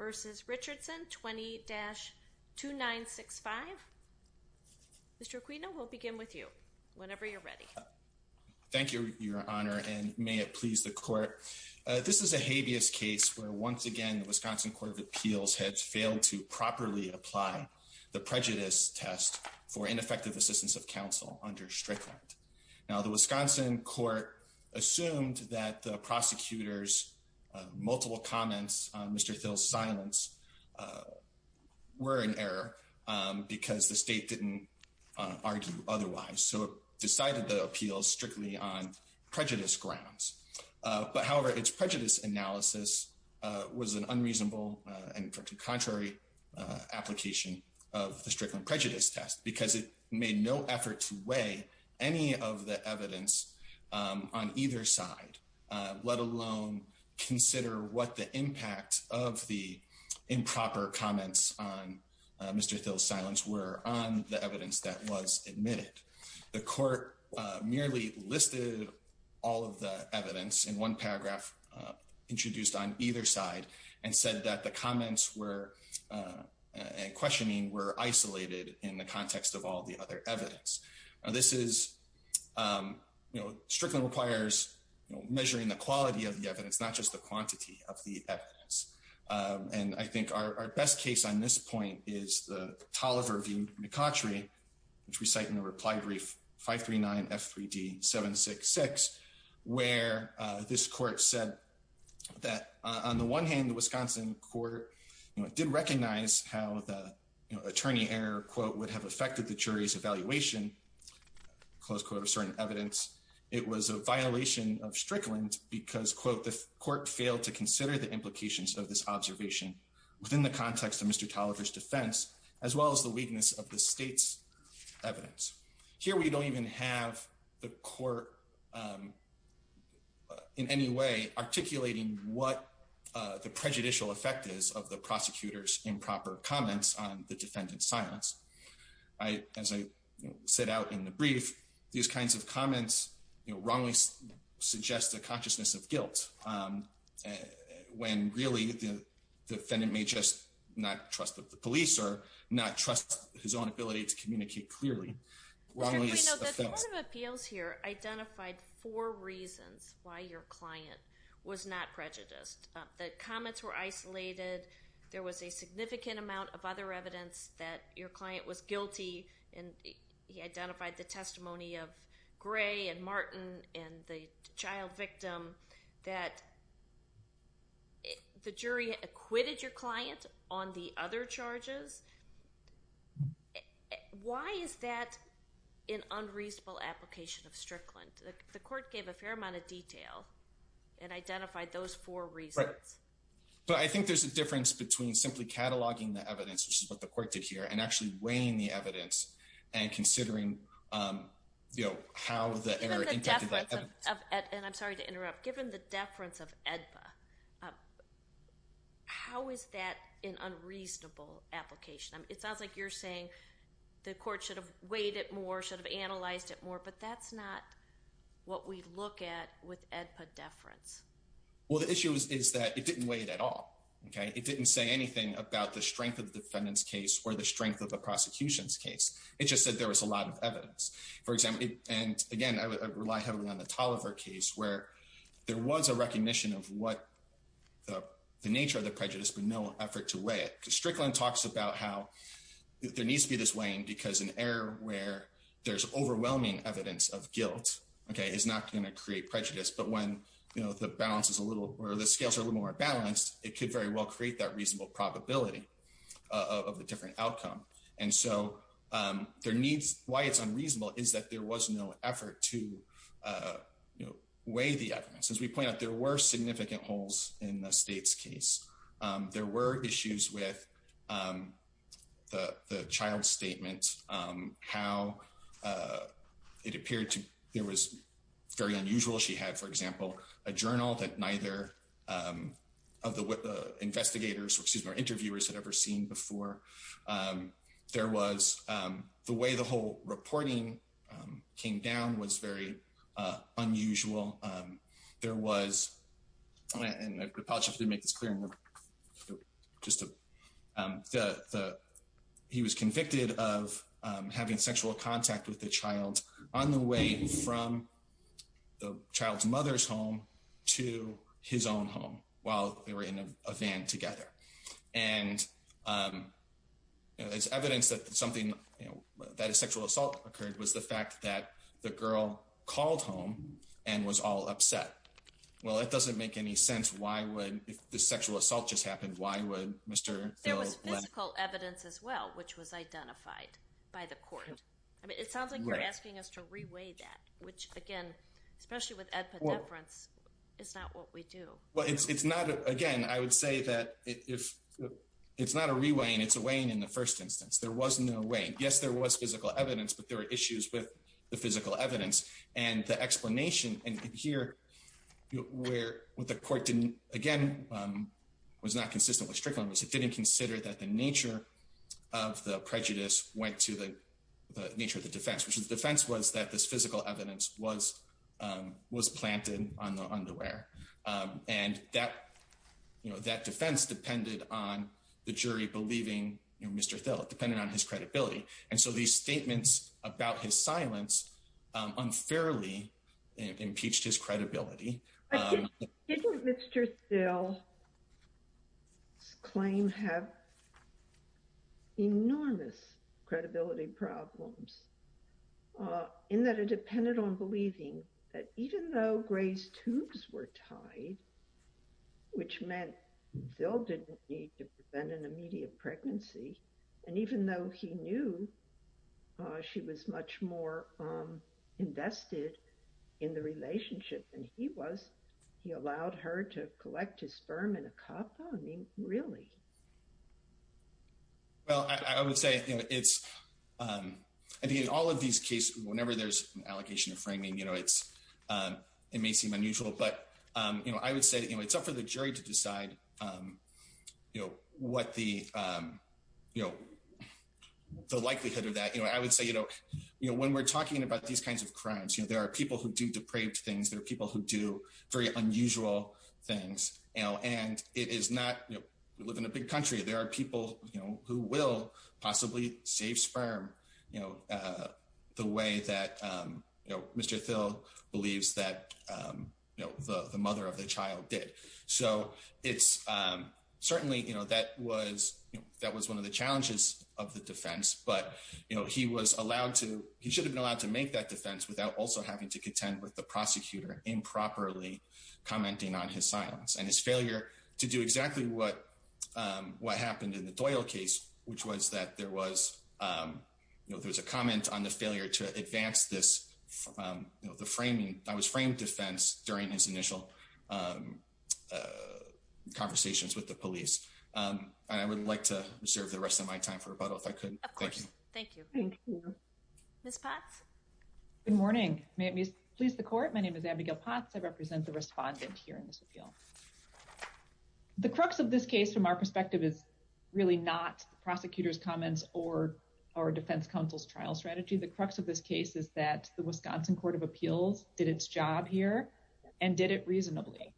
20-2965. Mr. Aquino we'll begin with you whenever you're ready. Thank you Your Honor and may it please the court. This is a habeas case where once again the Wisconsin Court of Appeals had failed to properly apply the prejudice test for ineffective assistance of counsel under Strickland. Now the Wisconsin Court assumed that the prosecutor's multiple comments on Mr. Thill's silence were in error because the state didn't argue otherwise. So it decided the appeals strictly on prejudice grounds. But however its prejudice analysis was an unreasonable and contrary application of the Strickland prejudice test because it either side, let alone consider what the impact of the improper comments on Mr. Thill's silence were on the evidence that was admitted. The court merely listed all of the evidence in one paragraph introduced on either side and said that the comments were questioning were isolated in the context of all the other evidence. This is, you know, Strickland requires measuring the quality of the evidence not just the quantity of the evidence. And I think our best case on this point is the Tolliver v. McCautry which we cite in the reply brief 539 F3D 766 where this court said that on the one hand the Wisconsin Court did recognize how the attorney error quote would have affected the jury's evaluation close quote of certain evidence. It was a violation of Strickland because quote the court failed to consider the implications of this observation within the context of Mr. Tolliver's defense as well as the weakness of the state's evidence. Here we don't even have the court in any way articulating what the prejudicial effect is of the prosecutor's improper comments on the defendant's silence. I, as I said out in the brief, these kinds of comments you know wrongly suggest a consciousness of guilt when really the defendant may just not trust that the police or not trust his own ability to communicate clearly. The Court of Appeals here identified four reasons why your client was not prejudiced. The comments were isolated, there was a significant amount of other evidence that your client was guilty and he identified the testimony of Gray and Martin and the child victim that the jury acquitted your client on the other charges. Why is that an unreasonable application of Strickland? The court gave a fair amount of detail and identified those four reasons. But I think there's a here and actually weighing the evidence and considering you know how the error and I'm sorry to interrupt given the deference of AEDPA, how is that an unreasonable application? It sounds like you're saying the court should have weighed it more, should have analyzed it more, but that's not what we look at with AEDPA deference. Well the issue is is that it didn't weigh it at all. Okay it didn't say anything about the strength of the defendant's case or the strength of the prosecution's case. It just said there was a lot of evidence. For example, and again I would rely heavily on the Tolliver case where there was a recognition of what the nature of the prejudice but no effort to weigh it. Strickland talks about how there needs to be this weighing because an error where there's overwhelming evidence of guilt, okay, is not going to create prejudice. But when you know the balance is a little or the scales are a little more balanced it could very well create that reasonable probability of the different outcome. And so there needs why it's unreasonable is that there was no effort to weigh the evidence. As we point out there were significant holes in the state's case. There were issues with the child's statement, how it appeared to there was very unusual. She had, for example, a journal that neither of the investigators, excuse me, or interviewers had ever seen before. There was the way the whole reporting came down was very unusual. There was, and I apologize to make this clear, he was convicted of having sexual contact with the child on the way from the child's mother's home to his own home while they were in a van together. And there's evidence that something, that a sexual assault occurred was the fact that the girl called home and was all upset. Well, it doesn't make any sense. Why would, if the sexual assault just happened, why would Mr. There was physical evidence as well, which was identified by the court. I mean, it sounds like you're asking us to reweigh that, which again, especially with Ed Poddeference, it's not what we do. Well, it's not, again, I would say that if it's not a reweighing, it's a weighing in the first instance, there was no weighing. Yes, there was physical evidence, but there were issues with the physical evidence. And the explanation here, where what the court didn't, again, was not consistent with Strickland was it didn't consider that the nature of the prejudice went to the nature of the defense, which is defense was that this physical evidence was, um, was planted on the underwear. Um, and that, you know, that defense depended on the jury believing, you know, Mr. Thill, it depended on his credibility. And so these statements about his silence, um, unfairly impeached his credibility. Didn't Mr. Thill's claim have enormous credibility problems? Uh, in that it depended on believing that even though Gray's tubes were tied, which meant Thill didn't need to prevent an immediate pregnancy. And even though he knew, uh, she was much more, um, invested in the relationship than he was, he allowed her to collect his sperm in a cup. I mean, really? Well, I would say, you know, it's, um, I think in all of these cases, whenever there's an allocation of framing, you know, it's, um, it may seem unusual, but, um, you know, I would say, you know, it's up for the jury to decide, um, you know, the likelihood of that, you know, I would say, you know, you know, when we're talking about these kinds of crimes, you know, there are people who do depraved things, there are people who do very unusual things, you know, and it is not, you know, we live in a big country, there are people, you know, who will possibly save sperm, you know, uh, the way that, um, you know, Mr. Thill believes that, um, you know, the mother of the child did. So it's, um, certainly, you know, that was, that was one of the challenges of the defense, but, you know, he was allowed to, he should have been allowed to make that defense without also having to contend with the prosecutor improperly commenting on his silence and his failure to do exactly what, um, what happened in the Doyle case, which was that there was, um, you know, there was a comment on the failure to advance this, um, you know, the framing that was framed defense during his initial, um, uh, conversations with the police. Um, I would like to reserve the rest of my time for rebuttal if I could. Thank you. Ms. Potts. Good morning. May it please the court. My name is Abigail Potts. I represent the respondent here in this appeal. The crux of this case from our perspective is really not the prosecutor's comments or our defense counsel's trial strategy. The crux of this case is that the Wisconsin Court of Appeals did its job here and did it reasonably.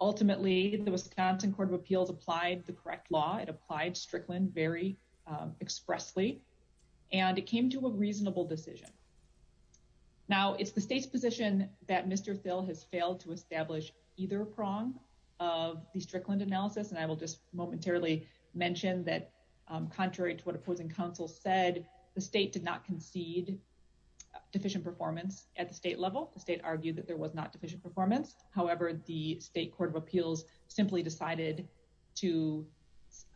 Ultimately the Wisconsin Court of Appeals applied the correct law. It applied Strickland very expressly and it came to a reasonable decision. Now it's the state's position that Mr. Thill has failed to establish either prong of the Strickland analysis. And I will just momentarily mention that, um, contrary to what opposing counsel said, the state did not concede deficient performance at the state level. The state did not concede that there was not deficient performance. However, the state Court of Appeals simply decided to,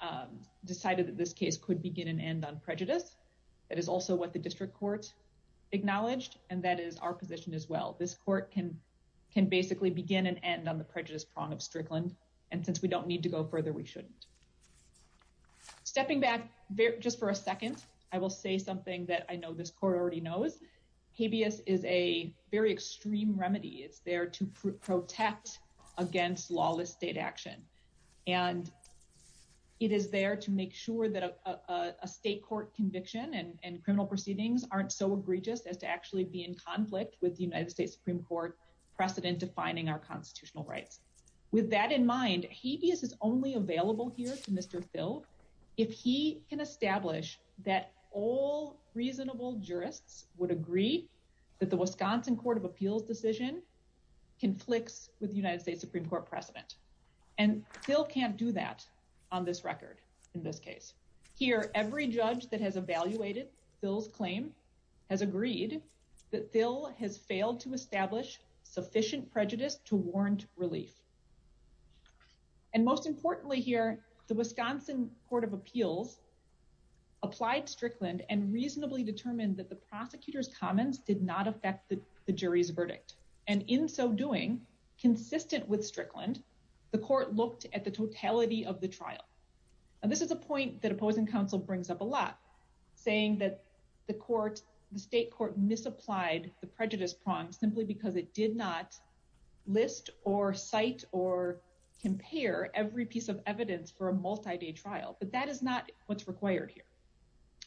um, decided that this case could begin and end on prejudice. That is also what the district court acknowledged. And that is our position as well. This court can, can basically begin and end on the prejudice prong of Strickland. And since we don't need to go further, we shouldn't. Stepping back just for a second, I will say something that I know this court already knows. Habeas is a very extreme remedy. It's there to protect against lawless state action. And it is there to make sure that a state court conviction and criminal proceedings aren't so egregious as to actually be in conflict with the United States Supreme Court precedent defining our constitutional rights. With that in mind, no reasonable jurists would agree that the Wisconsin Court of Appeals decision conflicts with United States Supreme Court precedent. And Phil can't do that on this record. In this case here, every judge that has evaluated Phil's claim has agreed that Phil has failed to establish sufficient prejudice to warrant relief. And most importantly here, the Wisconsin Court of Appeals applied Strickland and reasonably determined that the prosecutor's comments did not affect the jury's verdict. And in so doing, consistent with Strickland, the court looked at the totality of the trial. And this is a point that opposing counsel brings up a lot saying that the court, the state court misapplied the prejudice prong simply because it did not list or cite or compare every piece of evidence for a multi-day trial. But that is not what's required here.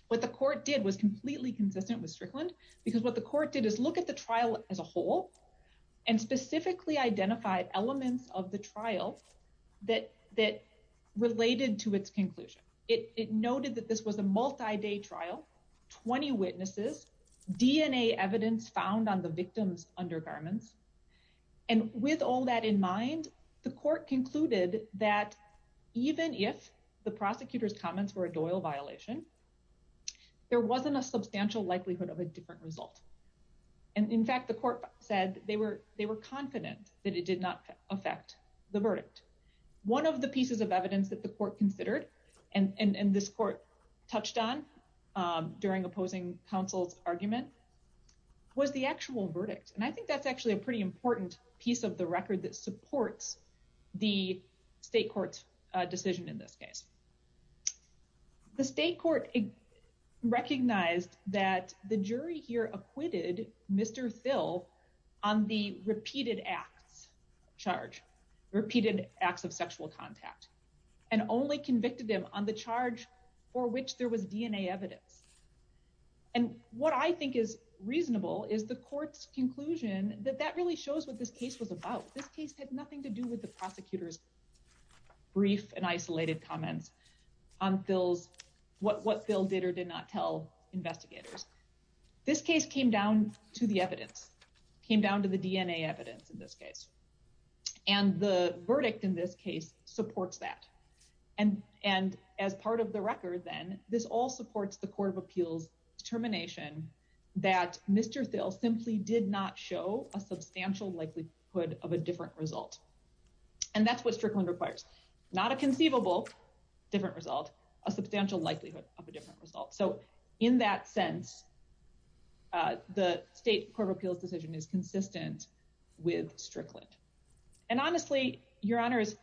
What the court did was completely consistent with Strickland because what the court did is look at the trial as a whole and specifically identified elements of the trial that related to its conclusion. It noted that this was a multi-day trial, 20 witnesses, DNA evidence found on the victims undergarments. And with all that in mind, the court concluded that even if the prosecutor's comments were a Doyle violation, there wasn't a substantial likelihood of a different result. And in fact, the court said they were confident that it did not affect the verdict. One of the pieces of evidence that the court considered and this court touched on during opposing counsel's argument was the actual verdict. And I think that's actually a pretty important piece of the record that supports the state court's decision in this case. The state court recognized that the jury here acquitted Mr. Thill on the repeated acts charge, repeated acts of sexual contact, and only convicted him on the charge for which there was DNA evidence. And what I think is reasonable is the court's conclusion that that really shows what this case was about. This case had nothing to do with the prosecutor's brief and isolated comments on Thill's, what Thill did or did not tell investigators. This case came down to the evidence, came down to the DNA evidence in this case. And the verdict in this case supports that. And as part of the record then, this all supports the court of appeals determination that Mr. Thill simply did not show a substantial likelihood of a different result. And that's what Strickland requires. Not a conceivable different result, a substantial likelihood of a different result. So in that sense, the state court of appeals decision is consistent with Strickland. And honestly, your honors,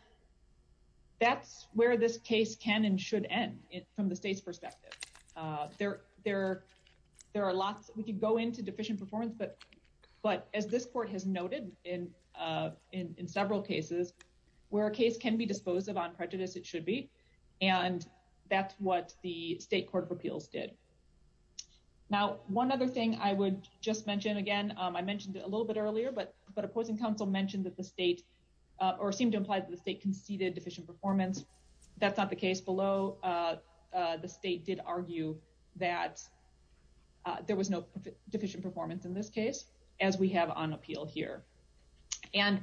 that's where this case can and should end from the state's perspective. There are lots, we could go into deficient performance, but as this court has noted in several cases, where a case can be disposed of on prejudice, it should be. And that's what the state court of appeals did. Now, one other thing I would just mention again, I mentioned it a little bit earlier, but opposing counsel mentioned that the state, or seemed to imply that the state conceded deficient performance. That's not the case below. The state did argue that there was no deficient performance in this case, as we have on appeal here. And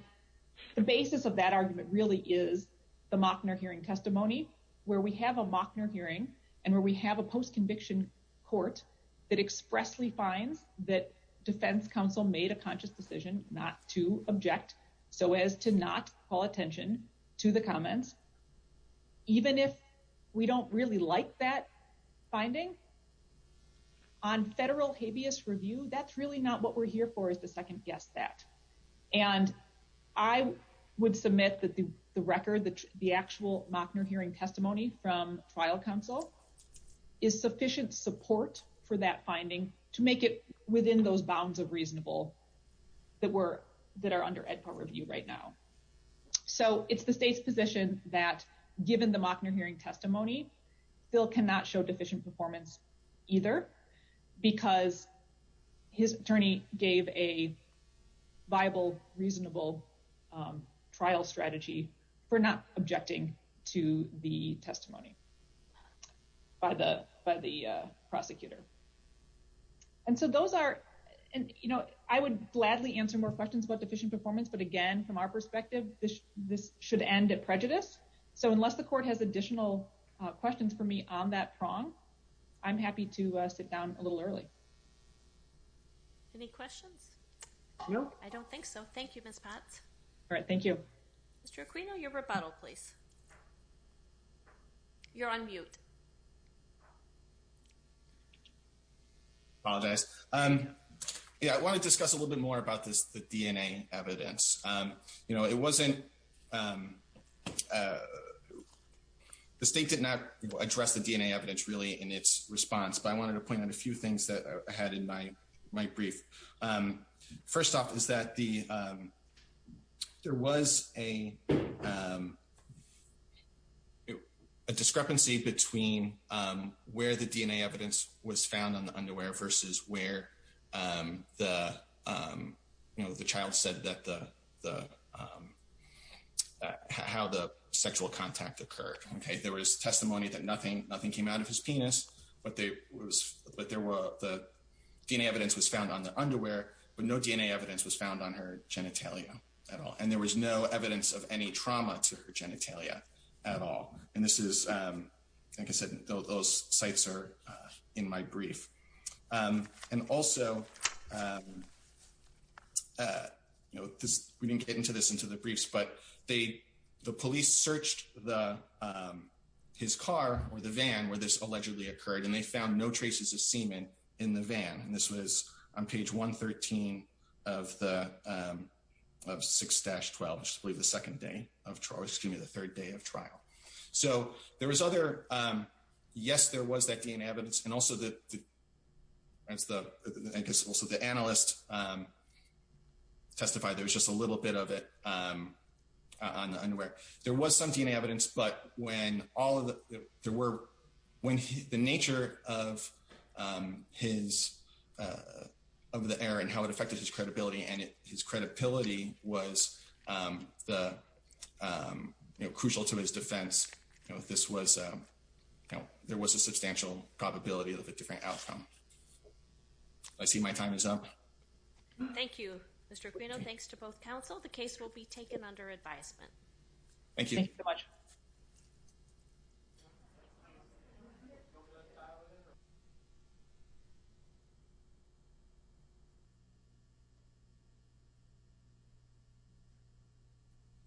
the basis of that argument really is the Mockner hearing testimony, where we have a Mockner hearing, and where we have a post conviction court that expressly finds that defense counsel made a conscious decision not to object, so as to not call attention to the comments, even if we don't really like that finding on federal habeas review, that's really not what we're here for is the second guess that. And I would submit that the record, the actual Mockner hearing testimony from trial counsel is sufficient support for that finding to make it within those bounds of reasonable that are under Ed Part review right now. So it's the state's position that given the Mockner hearing testimony, Phil cannot show deficient performance either, because his attorney gave a viable, reasonable trial strategy for not objecting to the testimony by the by the prosecutor. And so those are, you know, I would gladly answer more deficient performance. But again, from our perspective, this should end at prejudice. So unless the court has additional questions for me on that prong, I'm happy to sit down a little early. Any questions? No, I don't think so. Thank you, Miss Pat. All right. Thank you. Mr. Aquino, your rebuttal, please. You're on mute. Apologize. Yeah, I want to discuss a little bit more about this, the DNA evidence. You know, it wasn't, the state did not address the DNA evidence really in its response. But I wanted to point out a few things that I had in my, my where the DNA evidence was found on the underwear versus where the, you know, the child said that the, how the sexual contact occurred. Okay, there was testimony that nothing, nothing came out of his penis. But there was, but there were the DNA evidence was found on the underwear, but no DNA evidence was found on her genitalia at all. And there was no evidence of any trauma to her penis. And those sites are in my brief. And also, you know, this, we didn't get into this into the briefs, but they, the police searched the, his car or the van where this allegedly occurred, and they found no traces of semen in the van. And this was on page 113 of the, of 6-12, I believe the second day of trial, excuse me. There's other, yes, there was that DNA evidence. And also the, as the, I guess also the analyst testified, there was just a little bit of it on the underwear. There was some DNA evidence, but when all of the, there were, when the nature of his, of the error and how it affected his credibility, and his you know, there was a substantial probability of a different outcome. I see my time is up. Thank you, Mr. Aquino. Thanks to both counsel. The case will be taken under advisement. Thank you.